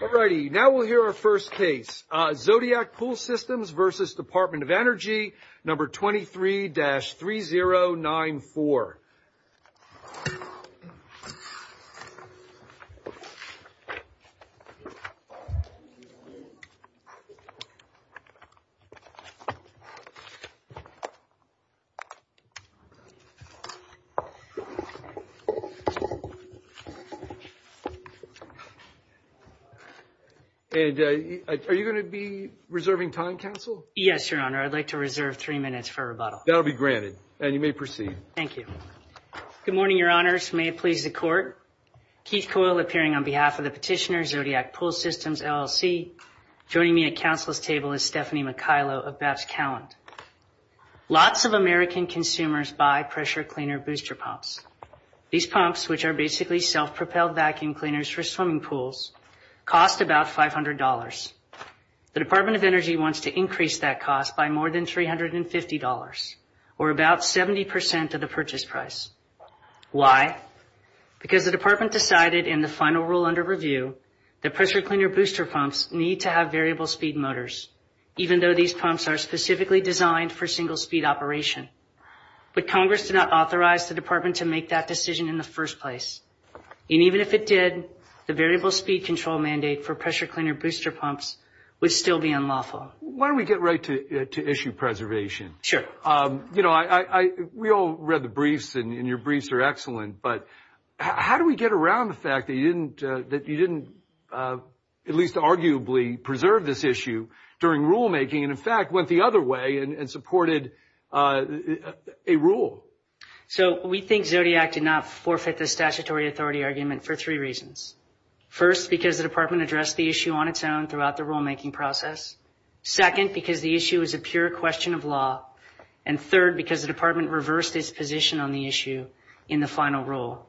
Alrighty, now we'll hear our first case, Zodiac Pool Systems v. Department of Energy, number 23-3094. And are you going to be reserving time, Counsel? Yes, Your Honor, I'd like to reserve three minutes for rebuttal. That'll be granted, and you may proceed. Thank you. Good morning, Your Honors. May it please the Court? Keith Coyle, appearing on behalf of the petitioner, Zodiac Pool Systems LLC. Joining me at Counsel's table is Stephanie McKaylo of Babs Calland. Lots of American consumers buy pressure cleaner booster pumps. These pumps, which are basically self-propelled vacuum cleaners for swimming pools, cost about $500. The Department of Energy wants to increase that cost by more than $350, or about 70% of the purchase price. Why? Because the Department decided in the final rule under review that pressure cleaner booster pumps need to have variable speed motors, even though these pumps are specifically designed for single speed operation. But Congress did not authorize the Department to make that decision in the first place. And even if it did, the variable speed control mandate for pressure cleaner booster pumps would still be unlawful. Why don't we get right to issue preservation? Sure. You know, we all read the briefs, and your briefs are excellent, but how do we get around the fact that you didn't at least arguably preserve this issue during rulemaking, and in fact went the other way and supported a rule? So we think Zodiac did not forfeit the statutory authority argument for three reasons. First, because the Department addressed the issue on its own throughout the rulemaking process. Second, because the issue is a pure question of law. And third, because the Department reversed its position on the issue in the final rule.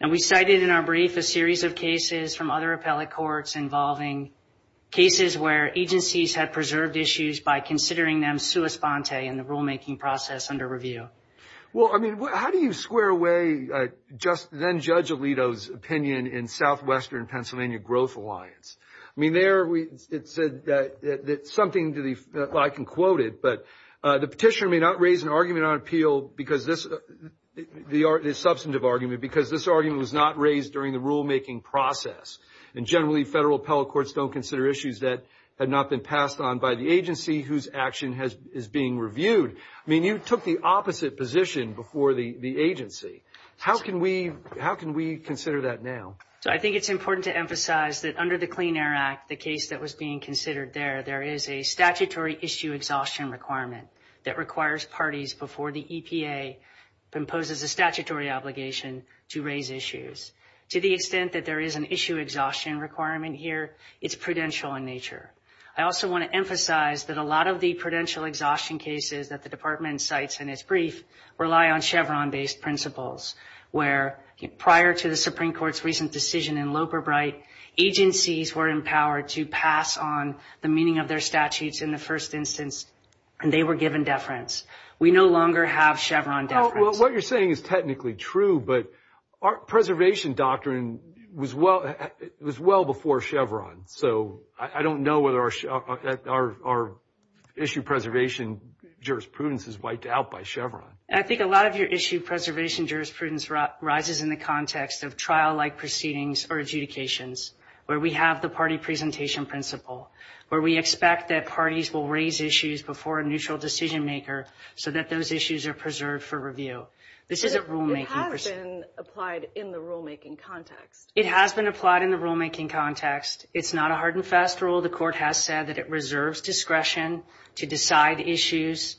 And we cited in our brief a series of cases from other appellate courts involving cases where agencies had preserved issues by considering them sua sponte in the rulemaking process under review. Well, I mean, how do you square away just then Judge Alito's opinion in Southwestern Pennsylvania Growth Alliance? I mean, there it said that something to the, I can quote it, but the petitioner may not raise an argument on appeal because this, the substantive argument because this argument was not raised during the rulemaking process, and generally federal appellate courts don't consider issues that had not been passed on by the agency whose action is being reviewed. I mean, you took the opposite position before the agency. How can we consider that now? So I think it's important to emphasize that under the Clean Air Act, the case that was being considered there, there is a statutory issue exhaustion requirement that requires parties before the EPA imposes a statutory obligation to raise issues. To the extent that there is an issue exhaustion requirement here, it's prudential in nature. I also want to emphasize that a lot of the prudential exhaustion cases that the Department cites in its brief rely on Chevron-based principles, where prior to the Supreme Court's recent decision in Loperbright, agencies were empowered to pass on the meaning of their statutes in the first instance, and they were given deference. We no longer have Chevron deference. Well, what you're saying is technically true, but our preservation doctrine was well before Chevron, so I don't know whether our issue preservation jurisprudence is wiped out by Chevron. I think a lot of your issue preservation jurisprudence rises in the context of trial-like proceedings or adjudications, where we have the party presentation principle, where we expect that parties will raise issues before a neutral decision-maker so that those issues are preserved for review. This is a rulemaking principle. It has been applied in the rulemaking context. It has been applied in the rulemaking context. It's not a hard-and-fast rule. The Court has said that it reserves discretion to decide issues.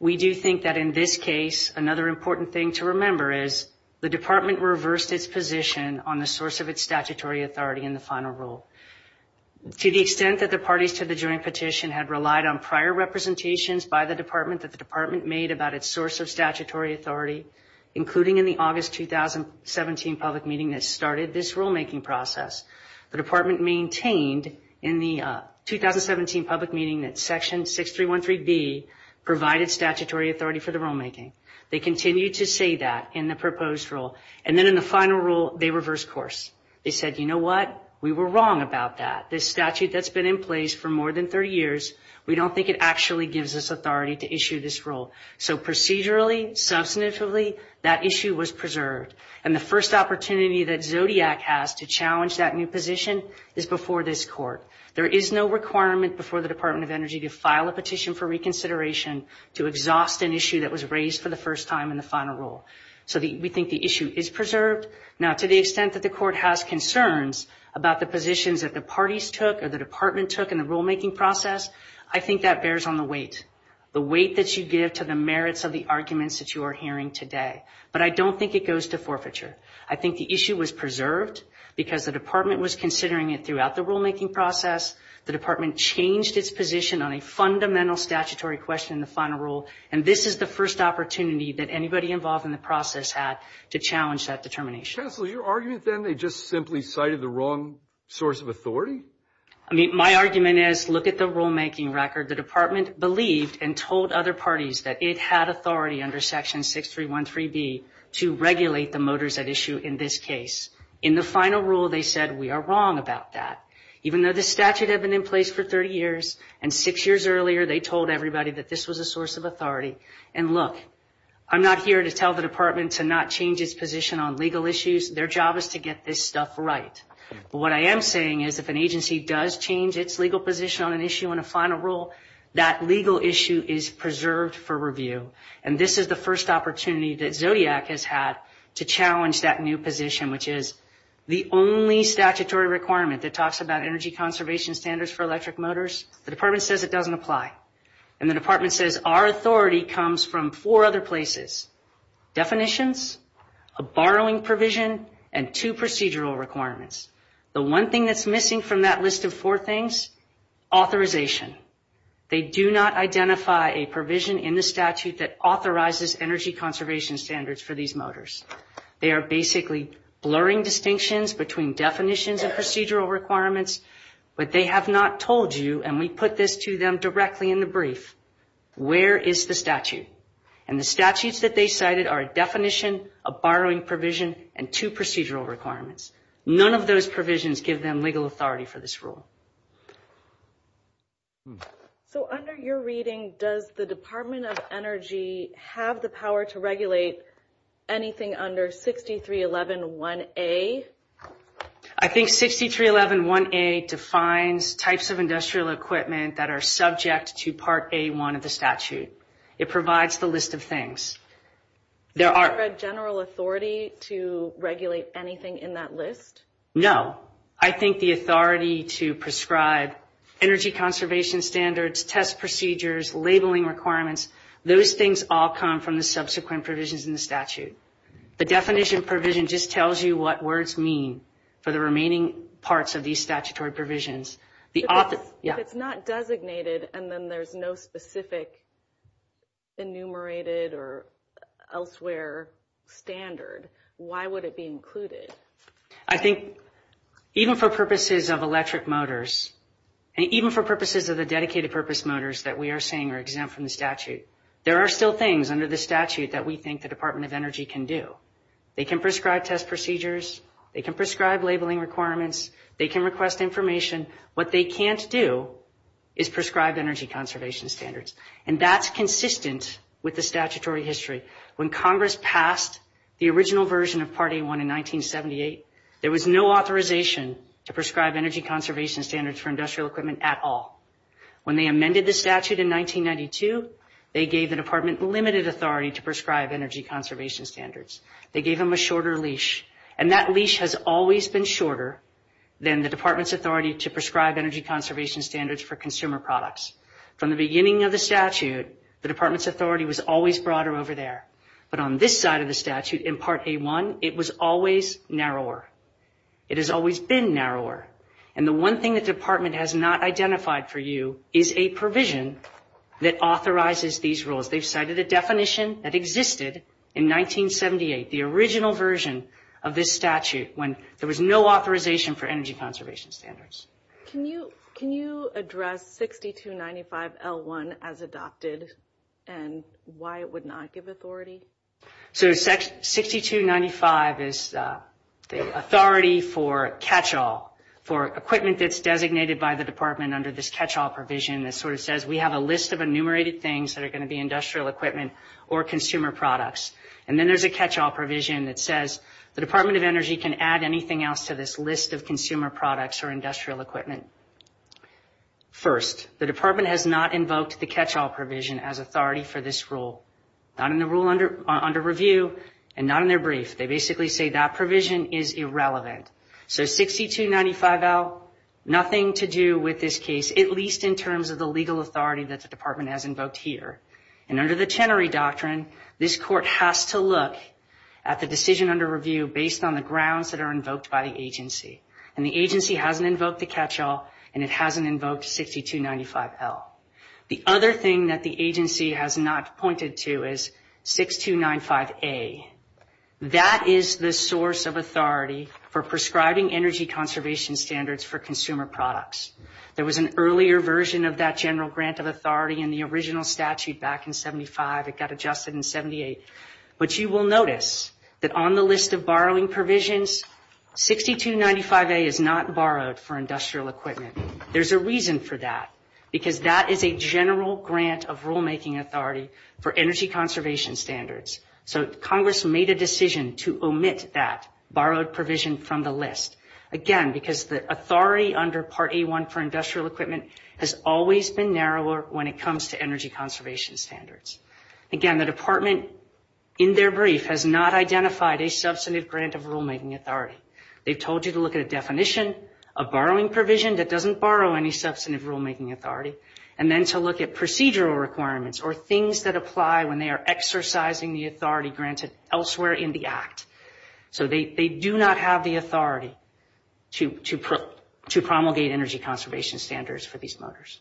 We do think that in this case, another important thing to remember is the Department reversed its position on the source of its statutory authority in the final rule. To the extent that the parties to the joint petition had relied on prior representations by the Department that the Department made about its source of statutory authority, including in the August 2017 public meeting that started this rulemaking process, the Department maintained in the 2017 public meeting that Section 6313B provided statutory authority for the rulemaking. They continued to say that in the proposed rule. And then in the final rule, they reversed course. They said, you know what? We were wrong about that. This statute that's been in place for more than 30 years, we don't think it actually gives us authority to issue this rule. So procedurally, substantively, that issue was preserved. And the first opportunity that Zodiac has to challenge that new position is before this Court. There is no requirement before the Department of Energy to file a petition for reconsideration to exhaust an issue that was raised for the first time in the final rule. So we think the issue is preserved. Now, to the extent that the Court has concerns about the positions that the parties took or the Department took in the rulemaking process, I think that bears on the weight, the weight that you give to the merits of the arguments that you are hearing today. But I don't think it goes to forfeiture. I think the issue was preserved because the Department was considering it throughout the rulemaking process. The Department changed its position on a fundamental statutory question in the final rule. And this is the first opportunity that anybody involved in the process had to challenge that determination. Counsel, your argument then, they just simply cited the wrong source of authority? I mean, my argument is, look at the rulemaking record. The Department believed and told other parties that it had authority under Section 6313B to regulate the motors at issue in this case. In the final rule, they said we are wrong about that. Even though the statute had been in place for 30 years, and six years earlier, they told everybody that this was a source of authority. And look, I'm not here to tell the Department to not change its position on legal issues. Their job is to get this stuff right. But what I am saying is if an agency does change its legal position on an issue in a final rule, that legal issue is preserved for review. And this is the first opportunity that Zodiac has had to challenge that new position, which is the only statutory requirement that talks about energy conservation standards for electric motors. The Department says it doesn't apply. And the Department says our authority comes from four other places, definitions, a borrowing provision, and two procedural requirements. The one thing that's missing from that list of four things, authorization. They do not identify a provision in the statute that authorizes energy conservation standards for these motors. They are basically blurring distinctions between definitions and procedural requirements. But they have not told you, and we put this to them directly in the brief, where is the statute? And the statutes that they cited are a definition, a borrowing provision, and two procedural requirements. None of those provisions give them legal authority for this rule. So under your reading, does the Department of Energy have the power to regulate anything under 63111A? I think 63111A defines types of industrial equipment that are subject to Part A1 of the statute. It provides the list of things. Is there a general authority to regulate anything in that list? No. I think the authority to prescribe energy conservation standards, test procedures, labeling requirements, those things all come from the subsequent provisions in the statute. The definition provision just tells you what words mean for the remaining parts of these statutory provisions. If it's not designated and then there's no specific enumerated or elsewhere standard, why would it be included? I think even for purposes of electric motors, and even for purposes of the dedicated purpose motors that we are seeing are exempt from the statute, there are still things under the statute that we think the Department of Energy can do. They can prescribe test procedures. They can prescribe labeling requirements. They can request information. What they can't do is prescribe energy conservation standards, and that's consistent with the statutory history. When Congress passed the original version of Part A1 in 1978, there was no authorization to prescribe energy conservation standards for industrial equipment at all. When they amended the statute in 1992, they gave the department limited authority to prescribe energy conservation standards. They gave them a shorter leash, and that leash has always been shorter than the department's authority to prescribe energy conservation standards for consumer products. From the beginning of the statute, the department's authority was always broader over there, but on this side of the statute in Part A1, it was always narrower. It has always been narrower. And the one thing that the department has not identified for you is a provision that authorizes these rules. They've cited a definition that existed in 1978, the original version of this statute, when there was no authorization for energy conservation standards. Can you address 6295L1 as adopted and why it would not give authority? So 6295 is the authority for catch-all, for equipment that's designated by the department under this catch-all provision that sort of says we have a list of enumerated things that are going to be industrial equipment or consumer products. And then there's a catch-all provision that says the Department of Energy can add anything else to this list of consumer products or industrial equipment. First, the department has not invoked the catch-all provision as authority for this rule. Not in the rule under review and not in their brief. They basically say that provision is irrelevant. So 6295L, nothing to do with this case, at least in terms of the legal authority that the department has invoked here. And under the Chenery Doctrine, this court has to look at the decision under review based on the grounds that are invoked by the agency. And the agency hasn't invoked the catch-all and it hasn't invoked 6295L. The other thing that the agency has not pointed to is 6295A. That is the source of authority for prescribing energy conservation standards for consumer products. There was an earlier version of that general grant of authority in the original statute back in 75. It got adjusted in 78. But you will notice that on the list of borrowing provisions, 6295A is not borrowed for industrial equipment. There's a reason for that, because that is a general grant of rulemaking authority for energy conservation standards. So Congress made a decision to omit that borrowed provision from the list. Again, because the authority under Part A1 for industrial equipment has always been narrower when it comes to energy conservation standards. Again, the department, in their brief, has not identified a substantive grant of rulemaking authority. They've told you to look at a definition of borrowing provision that doesn't borrow any substantive rulemaking authority, and then to look at procedural requirements or things that apply when they are exercising the authority granted elsewhere in the Act. So they do not have the authority to promulgate energy conservation standards for these motors.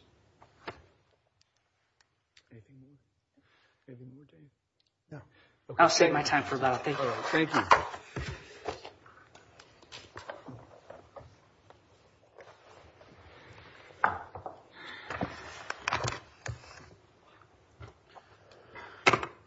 I'll save my time for that. Thank you. Thank you.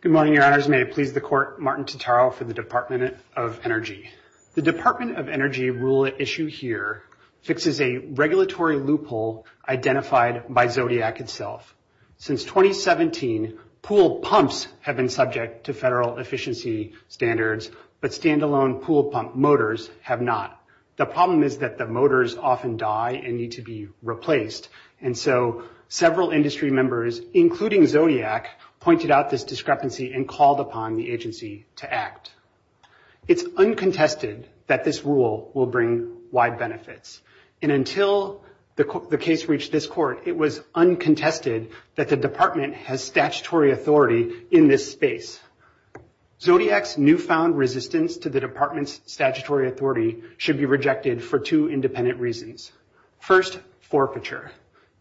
Good morning, Your Honors. May it please the Court. Martin Totaro for the Department of Energy. The Department of Energy rule at issue here fixes a regulatory loophole identified by Zodiac itself. Since 2017, pool pumps have been subject to federal efficiency standards, but standalone pool pump motors have not. The problem is that the motors often die and need to be replaced, and so several industry members, including Zodiac, pointed out this discrepancy and called upon the agency to act. It's uncontested that this rule will bring wide benefits, and until the case reached this court, it was uncontested that the department has statutory authority in this space. Zodiac's newfound resistance to the department's statutory authority should be rejected for two independent reasons. First, forfeiture.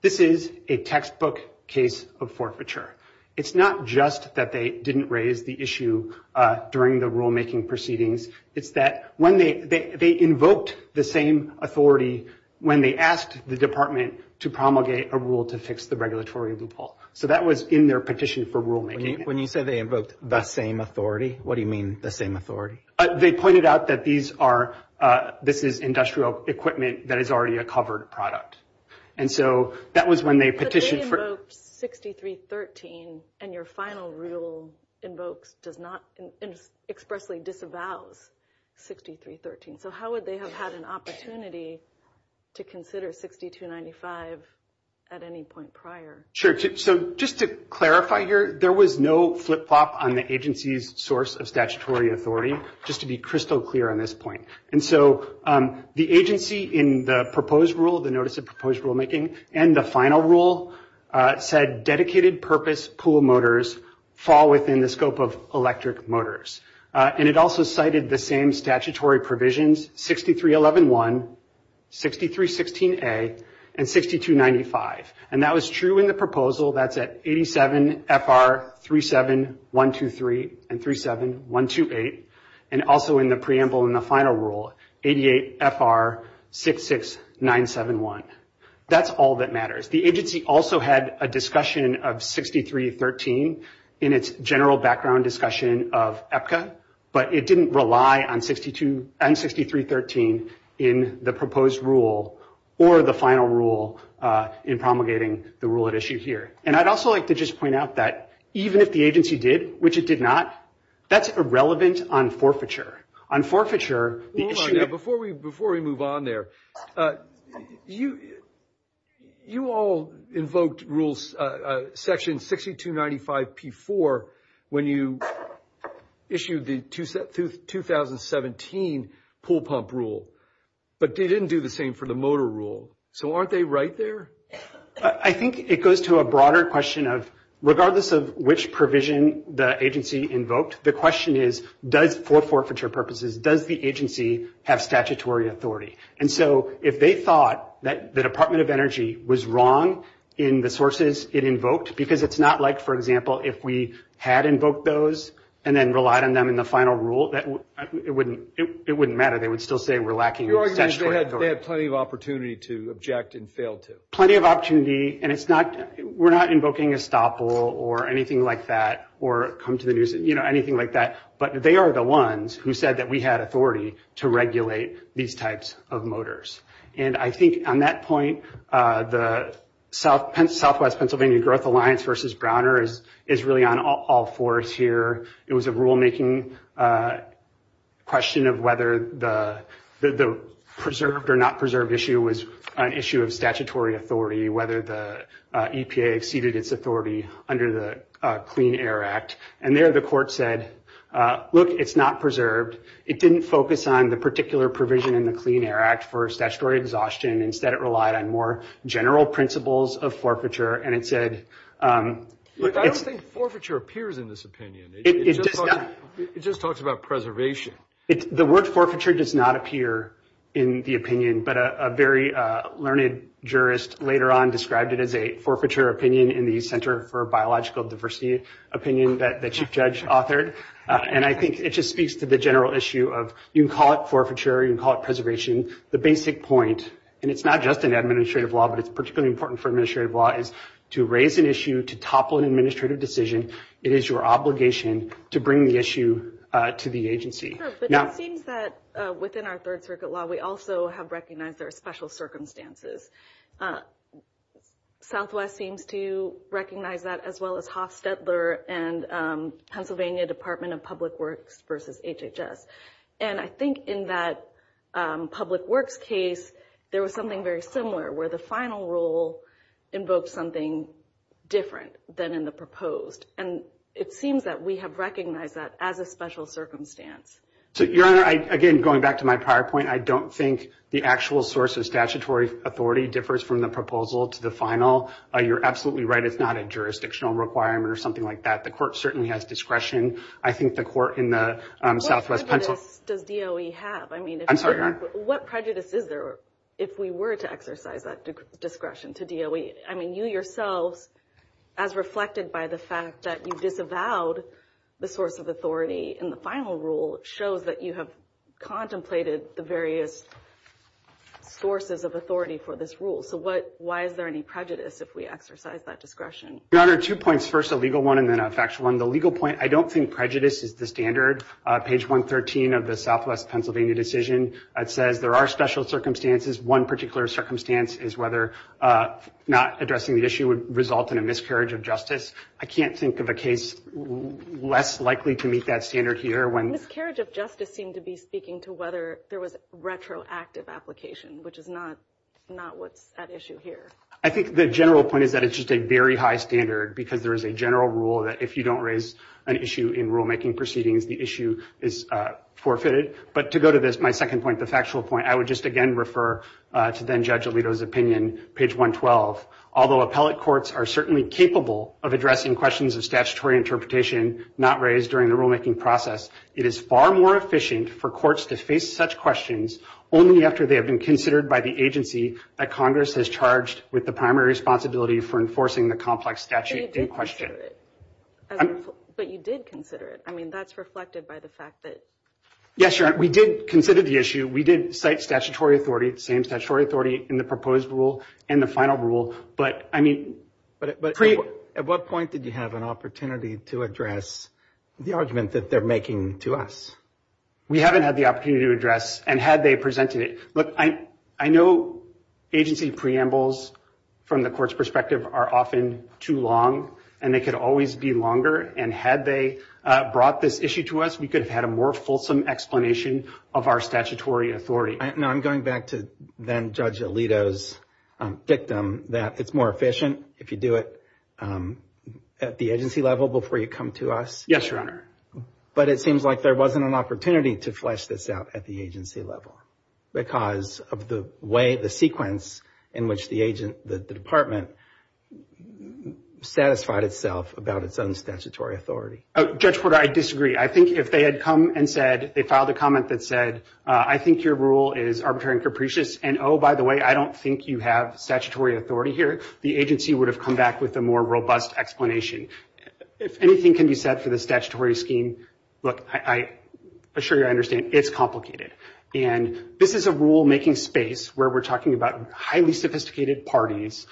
This is a textbook case of forfeiture. It's not just that they didn't raise the issue during the rulemaking proceedings. It's that they invoked the same authority when they asked the department to promulgate a rule to fix the regulatory loophole. So that was in their petition for rulemaking. When you say they invoked the same authority, what do you mean the same authority? They pointed out that this is industrial equipment that is already a covered product. And so that was when they petitioned for— 6313 and your final rule invokes, does not expressly disavows 6313. So how would they have had an opportunity to consider 6295 at any point prior? So just to clarify here, there was no flip-flop on the agency's source of statutory authority, just to be crystal clear on this point. And so the agency in the proposed rule, the notice of proposed rulemaking, and the final rule said dedicated purpose pool motors fall within the scope of electric motors. And it also cited the same statutory provisions, 63111, 6316A, and 6295. And that was true in the proposal. That's at 87 FR 37123 and 37128. And also in the preamble in the final rule, 88 FR 66971. That's all that matters. The agency also had a discussion of 6313 in its general background discussion of EPCA, but it didn't rely on 6313 in the proposed rule or the final rule in promulgating the rule at issue here. And I'd also like to just point out that even if the agency did, which it did not, that's irrelevant on forfeiture. On forfeiture— Before we move on there, you all invoked rules section 6295P4 when you issued the 2017 pool pump rule. But they didn't do the same for the motor rule. So aren't they right there? I think it goes to a broader question of regardless of which provision the agency invoked, the question is, for forfeiture purposes, does the agency have statutory authority? And so if they thought that the Department of Energy was wrong in the sources it invoked, because it's not like, for example, if we had invoked those and then relied on them in the final rule, it wouldn't matter. They would still say we're lacking statutory authority. Your argument is they had plenty of opportunity to object and fail to. Plenty of opportunity, and we're not invoking estoppel or anything like that or come to the news, anything like that. But they are the ones who said that we had authority to regulate these types of motors. And I think on that point, the Southwest Pennsylvania Growth Alliance versus Browner is really on all fours here. It was a rulemaking question of whether the preserved or not preserved issue was an issue of statutory authority, whether the EPA exceeded its authority under the Clean Air Act. And there the court said, look, it's not preserved. It didn't focus on the particular provision in the Clean Air Act for statutory exhaustion. Instead, it relied on more general principles of forfeiture. And it said it's- I don't think forfeiture appears in this opinion. It just talks about preservation. The word forfeiture does not appear in the opinion, but a very learned jurist later on described it as a forfeiture opinion in the Center for Biological Diversity opinion that the chief judge authored. And I think it just speaks to the general issue of you can call it forfeiture, you can call it preservation. The basic point, and it's not just in administrative law, but it's particularly important for administrative law, is to raise an issue to topple an administrative decision, it is your obligation to bring the issue to the agency. Sure, but it seems that within our Third Circuit law, we also have recognized there are special circumstances. Southwest seems to recognize that as well as Hofstetler and Pennsylvania Department of Public Works versus HHS. And I think in that Public Works case, there was something very similar where the final rule invoked something different than in the proposed. And it seems that we have recognized that as a special circumstance. Your Honor, again, going back to my prior point, I don't think the actual source of statutory authority differs from the proposal to the final. You're absolutely right, it's not a jurisdictional requirement or something like that. The court certainly has discretion. I think the court in the Southwest Pennsylvania… What prejudice does DOE have? I'm sorry, Your Honor. What prejudice is there if we were to exercise that discretion to DOE? I mean, you yourselves, as reflected by the fact that you disavowed the source of authority in the final rule, shows that you have contemplated the various sources of authority for this rule. So why is there any prejudice if we exercise that discretion? Your Honor, two points. First, a legal one and then a factual one. The legal point, I don't think prejudice is the standard. Page 113 of the Southwest Pennsylvania decision, it says there are special circumstances. One particular circumstance is whether not addressing the issue would result in a miscarriage of justice. I can't think of a case less likely to meet that standard here. A miscarriage of justice seemed to be speaking to whether there was retroactive application, which is not what's at issue here. I think the general point is that it's just a very high standard because there is a general rule that if you don't raise an issue in rulemaking proceedings, the issue is forfeited. But to go to my second point, the factual point, I would just again refer to then-Judge Alito's opinion, page 112. Although appellate courts are certainly capable of addressing questions of statutory interpretation not raised during the rulemaking process, it is far more efficient for courts to face such questions only after they have been considered by the agency that Congress has charged with the primary responsibility for enforcing the complex statute in question. But you did consider it. I mean, that's reflected by the fact that – Yes, Your Honor, we did consider the issue. We did cite statutory authority, the same statutory authority, in the proposed rule and the final rule, but I mean – But at what point did you have an opportunity to address the argument that they're making to us? We haven't had the opportunity to address, and had they presented it – Look, I know agency preambles from the court's perspective are often too long, and they could always be longer, and had they brought this issue to us, we could have had a more fulsome explanation of our statutory authority. No, I'm going back to then-Judge Alito's dictum that it's more efficient if you do it at the agency level before you come to us. Yes, Your Honor. But it seems like there wasn't an opportunity to flesh this out at the agency level because of the way the sequence in which the department satisfied itself about its own statutory authority. Judge Porter, I disagree. I think if they had come and said – they filed a comment that said, I think your rule is arbitrary and capricious, and oh, by the way, I don't think you have statutory authority here, the agency would have come back with a more robust explanation. If anything can be said for the statutory scheme, look, I assure you I understand, it's complicated. And this is a rule-making space where we're talking about highly sophisticated parties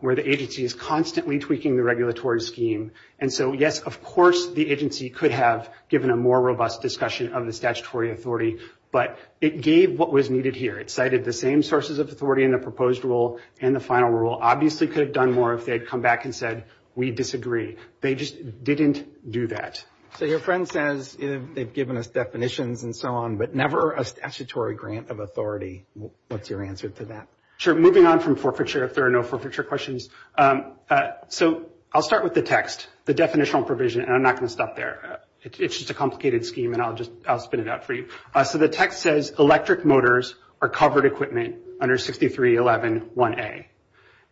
where the agency is constantly tweaking the regulatory scheme. And so, yes, of course the agency could have given a more robust discussion of the statutory authority, but it gave what was needed here. It cited the same sources of authority in the proposed rule and the final rule. Obviously could have done more if they had come back and said, we disagree. They just didn't do that. So your friend says they've given us definitions and so on, but never a statutory grant of authority. What's your answer to that? Sure. Moving on from forfeiture, if there are no forfeiture questions. So I'll start with the text, the definitional provision, and I'm not going to stop there. It's just a complicated scheme, and I'll just spin it out for you. So the text says electric motors are covered equipment under 6311A.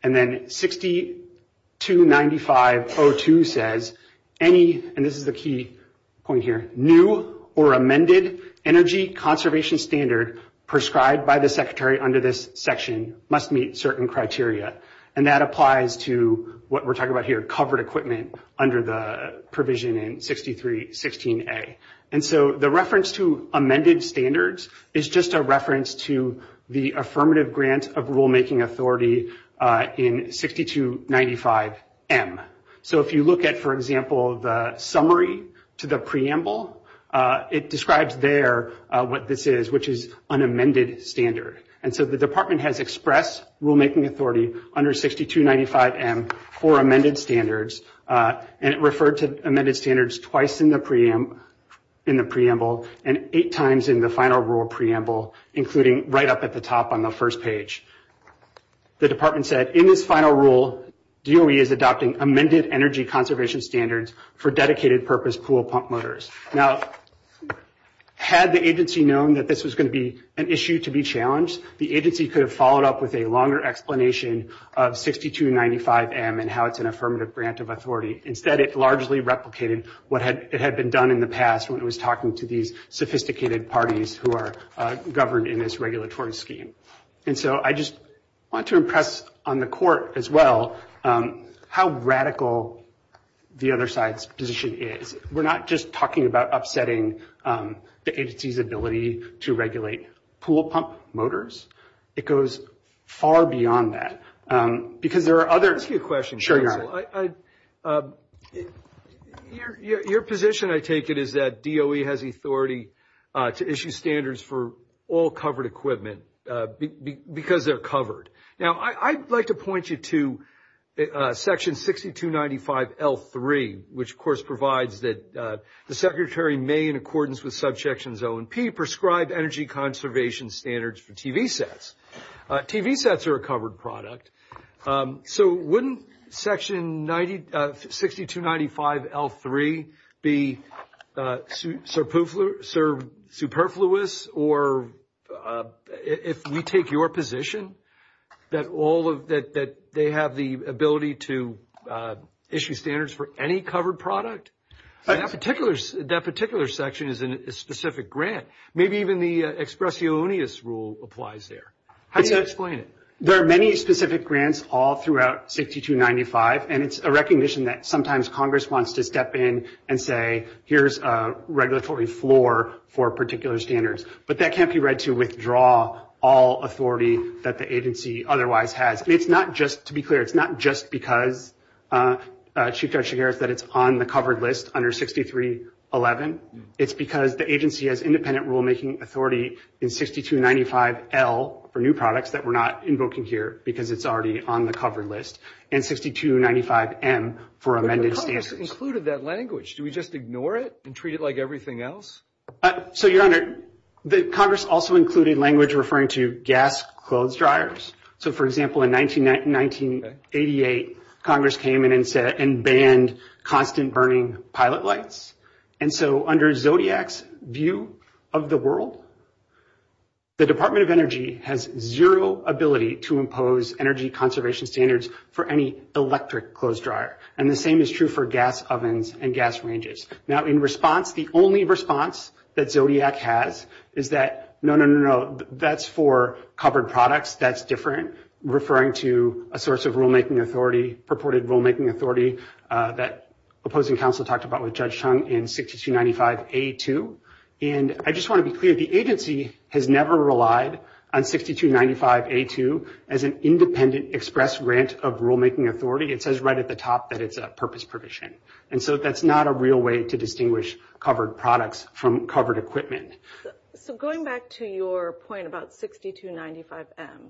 And then 629502 says any, and this is the key point here, new or amended energy conservation standard prescribed by the secretary under this section must meet certain criteria. And that applies to what we're talking about here, covered equipment under the provision in 6316A. And so the reference to amended standards is just a reference to the affirmative grant of rulemaking authority in 6295M. So if you look at, for example, the summary to the preamble, it describes there what this is, which is an amended standard. And so the department has expressed rulemaking authority under 6295M for amended standards, and it referred to amended standards twice in the preamble and eight times in the final rule preamble, including right up at the top on the first page. The department said, in this final rule, DOE is adopting amended energy conservation standards for dedicated purpose pool pump motors. Now, had the agency known that this was going to be an issue to be challenged, the agency could have followed up with a longer explanation of 6295M and how it's an affirmative grant of authority. Instead, it largely replicated what had been done in the past when it was talking to these sophisticated parties who are governed in this regulatory scheme. And so I just want to impress on the Court as well how radical the other side's position is. We're not just talking about upsetting the agency's ability to regulate pool pump motors. It goes far beyond that. Let me ask you a question, counsel. Your position, I take it, is that DOE has authority to issue standards for all covered equipment because they're covered. Now, I'd like to point you to Section 6295L3, which, of course, provides that the Secretary may, in accordance with Subsections O and P, prescribe energy conservation standards for TV sets. TV sets are a covered product, so wouldn't Section 6295L3 be superfluous or if we take your position that they have the ability to issue standards for any covered product? That particular section is a specific grant. Maybe even the expressionis rule applies there. How do you explain it? There are many specific grants all throughout 6295, and it's a recognition that sometimes Congress wants to step in and say, here's a regulatory floor for particular standards. But that can't be read to withdraw all authority that the agency otherwise has. It's not just, to be clear, it's not just because Chief Judge Shigera said it's on the covered list under 6311. It's because the agency has independent rulemaking authority in 6295L for new products that we're not invoking here because it's already on the covered list, and 6295M for amended standards. But Congress included that language. Do we just ignore it and treat it like everything else? So, Your Honor, Congress also included language referring to gas clothes dryers. So, for example, in 1988, Congress came in and banned constant burning pilot lights. And so under Zodiac's view of the world, the Department of Energy has zero ability to impose energy conservation standards for any electric clothes dryer. And the same is true for gas ovens and gas ranges. Now, in response, the only response that Zodiac has is that, no, no, no, no, that's for covered products. That's different. referring to a source of rulemaking authority, purported rulemaking authority, that opposing counsel talked about with Judge Chung in 6295A2. And I just want to be clear. The agency has never relied on 6295A2 as an independent express grant of rulemaking authority. It says right at the top that it's a purpose provision. And so that's not a real way to distinguish covered products from covered equipment. So going back to your point about 6295M,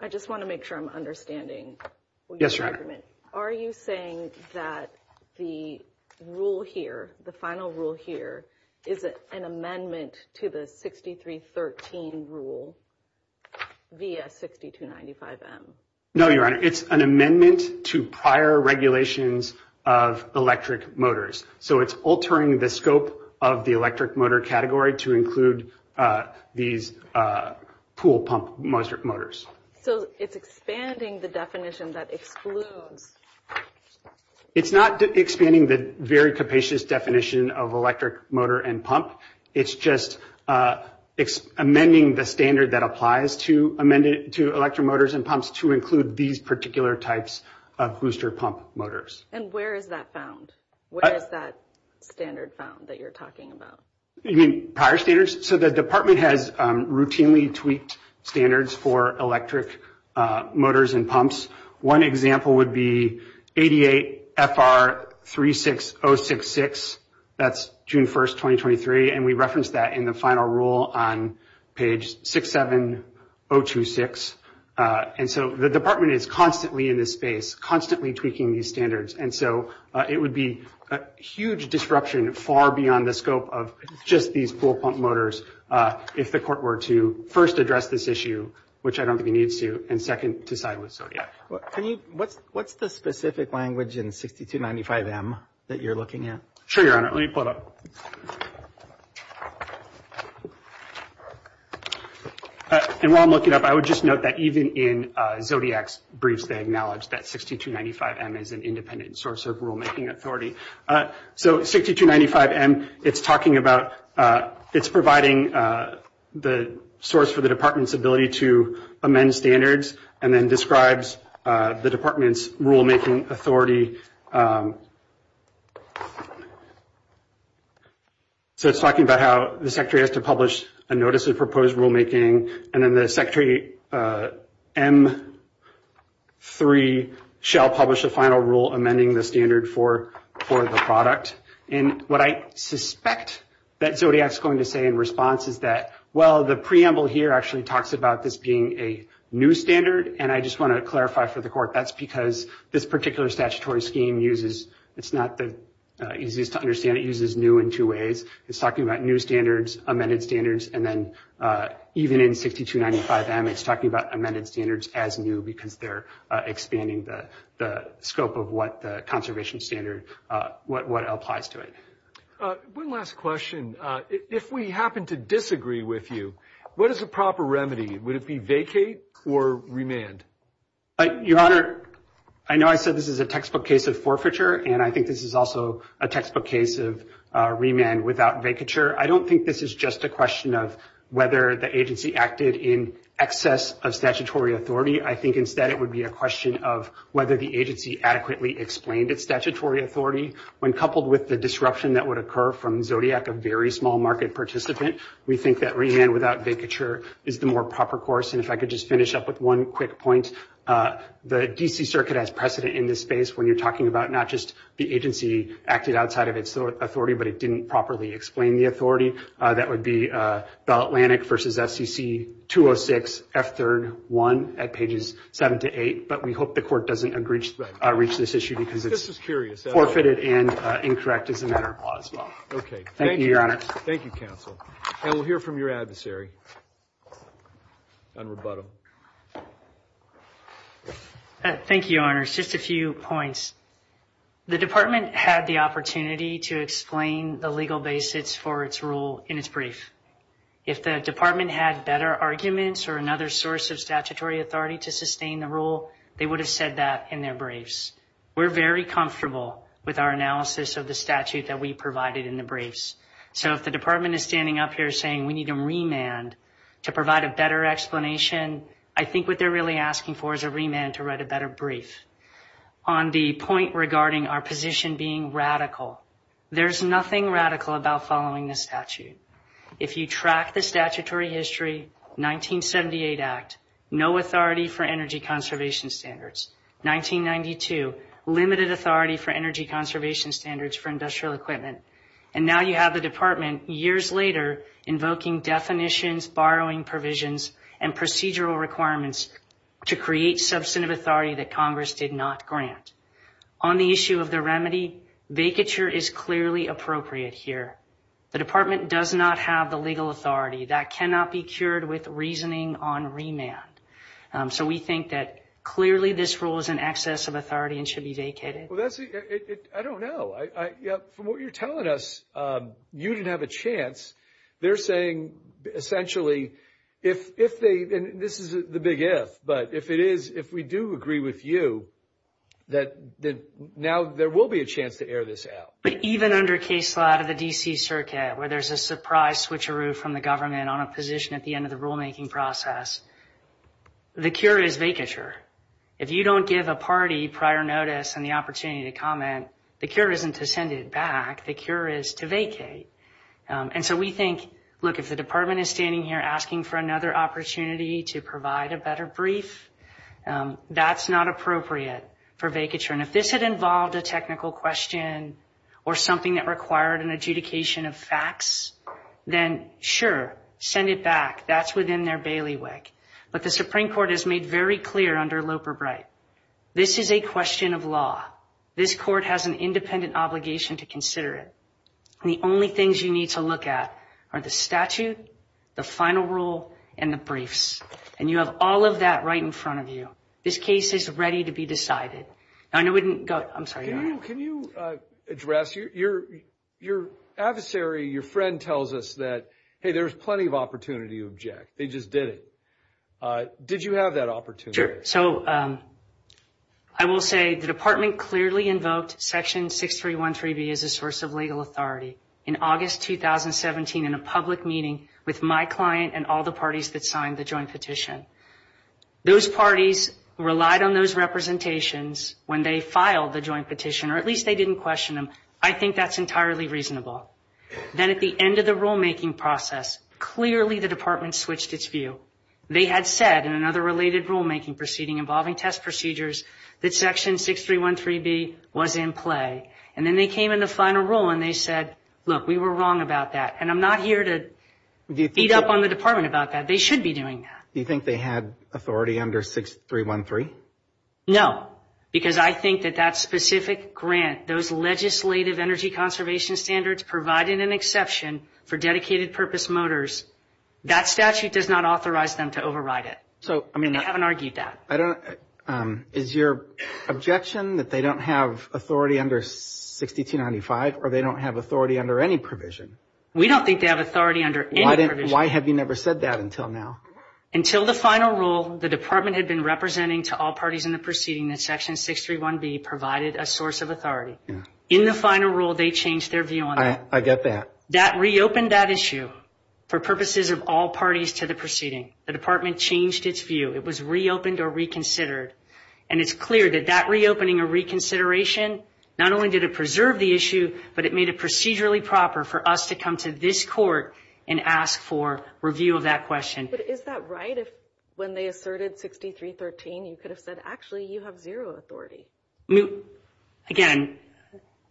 I just want to make sure I'm understanding. Yes, Your Honor. Are you saying that the rule here, the final rule here, is it an amendment to the 6313 rule via 6295M? No, Your Honor, it's an amendment to prior regulations of electric motors. So it's altering the scope of the electric motor category to include these pool pump motors. So it's expanding the definition that excludes. It's not expanding the very capacious definition of electric motor and pump. It's just amending the standard that applies to electric motors and pumps to include these particular types of booster pump motors. And where is that found? Where is that standard found that you're talking about? You mean prior standards? So the department has routinely tweaked standards for electric motors and pumps. One example would be 88FR36066. That's June 1st, 2023. And we referenced that in the final rule on page 67026. And so the department is constantly in this space, constantly tweaking these standards. And so it would be a huge disruption far beyond the scope of just these pool pump motors if the court were to first address this issue, which I don't think it needs to, and second to side with SODIAC. What's the specific language in 6295M that you're looking at? Sure, Your Honor. Let me pull it up. And while I'm looking up, I would just note that even in SODIAC's briefs, they acknowledge that 6295M is an independent source of rulemaking authority. So 6295M, it's talking about – it's providing the source for the department's ability to amend standards and then describes the department's rulemaking authority. So it's talking about how the secretary has to publish a notice of proposed rulemaking, and then the secretary M3 shall publish a final rule amending the standard for the product. And what I suspect that SODIAC's going to say in response is that, well, the preamble here actually talks about this being a new standard, and I just want to clarify for the court, that's because this particular statutory scheme uses – it's not the easiest to understand. It uses new in two ways. It's talking about new standards, amended standards, and then even in 6295M, it's talking about amended standards as new because they're expanding the scope of what the conservation standard – what applies to it. One last question. If we happen to disagree with you, what is a proper remedy? Would it be vacate or remand? Your Honor, I know I said this is a textbook case of forfeiture, and I think this is also a textbook case of remand without vacature. I don't think this is just a question of whether the agency acted in excess of statutory authority. I think instead it would be a question of whether the agency adequately explained its statutory authority. When coupled with the disruption that would occur from Zodiac, a very small market participant, we think that remand without vacature is the more proper course. And if I could just finish up with one quick point. The D.C. Circuit has precedent in this space when you're talking about not just the agency acted outside of its authority, but it didn't properly explain the authority. That would be Bell Atlantic v. FCC 206, F3-1 at pages 7 to 8, but we hope the Court doesn't reach this issue because it's forfeited and incorrect as a matter of law. Thank you, Your Honor. Thank you, counsel. And we'll hear from your adversary. Admiral Budham. Thank you, Your Honor. Just a few points. The Department had the opportunity to explain the legal basis for its rule in its brief. If the Department had better arguments or another source of statutory authority to sustain the rule, they would have said that in their briefs. We're very comfortable with our analysis of the statute that we provided in the briefs. So if the Department is standing up here saying we need a remand to provide a better explanation, I think what they're really asking for is a remand to write a better brief. On the point regarding our position being radical, there's nothing radical about following this statute. If you track the statutory history, 1978 Act, no authority for energy conservation standards. 1992, limited authority for energy conservation standards for industrial equipment. And now you have the Department, years later, invoking definitions, borrowing provisions, and procedural requirements to create substantive authority that Congress did not grant. On the issue of the remedy, vacature is clearly appropriate here. The Department does not have the legal authority. That cannot be cured with reasoning on remand. So we think that clearly this rule is in excess of authority and should be vacated. I don't know. From what you're telling us, you didn't have a chance. They're saying, essentially, if they, and this is the big if, but if it is, if we do agree with you, that now there will be a chance to air this out. But even under case law out of the D.C. Circuit, where there's a surprise switcheroo from the government on a position at the end of the rulemaking process, the cure is vacature. If you don't give a party prior notice and the opportunity to comment, the cure isn't to send it back. The cure is to vacate. And so we think, look, if the Department is standing here asking for another opportunity to provide a better brief, that's not appropriate for vacature. And if this had involved a technical question or something that required an adjudication of facts, then, sure, send it back. That's within their bailiwick. But the Supreme Court has made very clear under Loper-Bright, this is a question of law. This court has an independent obligation to consider it. And the only things you need to look at are the statute, the final rule, and the briefs. And you have all of that right in front of you. This case is ready to be decided. Now, I know we didn't go, I'm sorry. Can you address, your adversary, your friend, tells us that, hey, there's plenty of opportunity to object. They just did it. Did you have that opportunity? Sure. So I will say the Department clearly invoked Section 6313B as a source of legal authority in August 2017 in a public meeting with my client and all the parties that signed the joint petition. Those parties relied on those representations when they filed the joint petition, or at least they didn't question them. I think that's entirely reasonable. Then at the end of the rulemaking process, clearly the Department switched its view. They had said in another related rulemaking proceeding involving test procedures that Section 6313B was in play. And then they came in the final rule and they said, look, we were wrong about that. And I'm not here to beat up on the Department about that. They should be doing that. Do you think they had authority under 6313? No, because I think that that specific grant, those legislative energy conservation standards, provided an exception for dedicated purpose motors, that statute does not authorize them to override it. They haven't argued that. Is your objection that they don't have authority under 6295 or they don't have authority under any provision? We don't think they have authority under any provision. Why have you never said that until now? Until the final rule, the Department had been representing to all parties in the proceeding that Section 631B provided a source of authority. In the final rule, they changed their view on that. I get that. That reopened that issue for purposes of all parties to the proceeding. The Department changed its view. It was reopened or reconsidered. And it's clear that that reopening or reconsideration not only did it preserve the issue, but it made it procedurally proper for us to come to this court and ask for review of that question. But is that right if when they asserted 6313, you could have said, actually, you have zero authority? Again,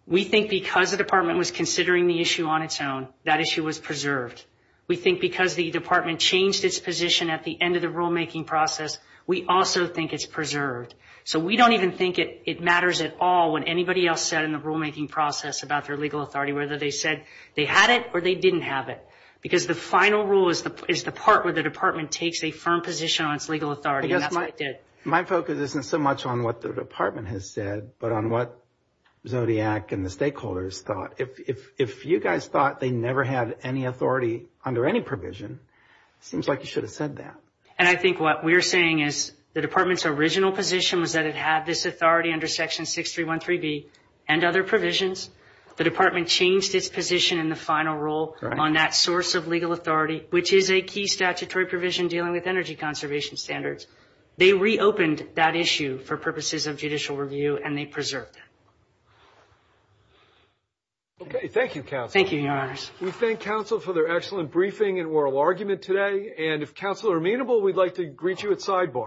we think because the Department was considering the issue on its own, that issue was preserved. We think because the Department changed its position at the end of the rulemaking process, we also think it's preserved. So we don't even think it matters at all what anybody else said in the rulemaking process about their legal authority, whether they said they had it or they didn't have it, because the final rule is the part where the Department takes a firm position on its legal authority, and that's what it did. My focus isn't so much on what the Department has said, but on what Zodiac and the stakeholders thought. If you guys thought they never had any authority under any provision, it seems like you should have said that. And I think what we're saying is the Department's original position was that it had this authority under Section 6313B and other provisions. The Department changed its position in the final rule on that source of legal authority, which is a key statutory provision dealing with energy conservation standards. They reopened that issue for purposes of judicial review, and they preserved it. Okay, thank you, Counsel. Thank you, Your Honors. We thank Counsel for their excellent briefing and oral argument today. And if Counsel are amenable, we'd like to greet you at sidebar.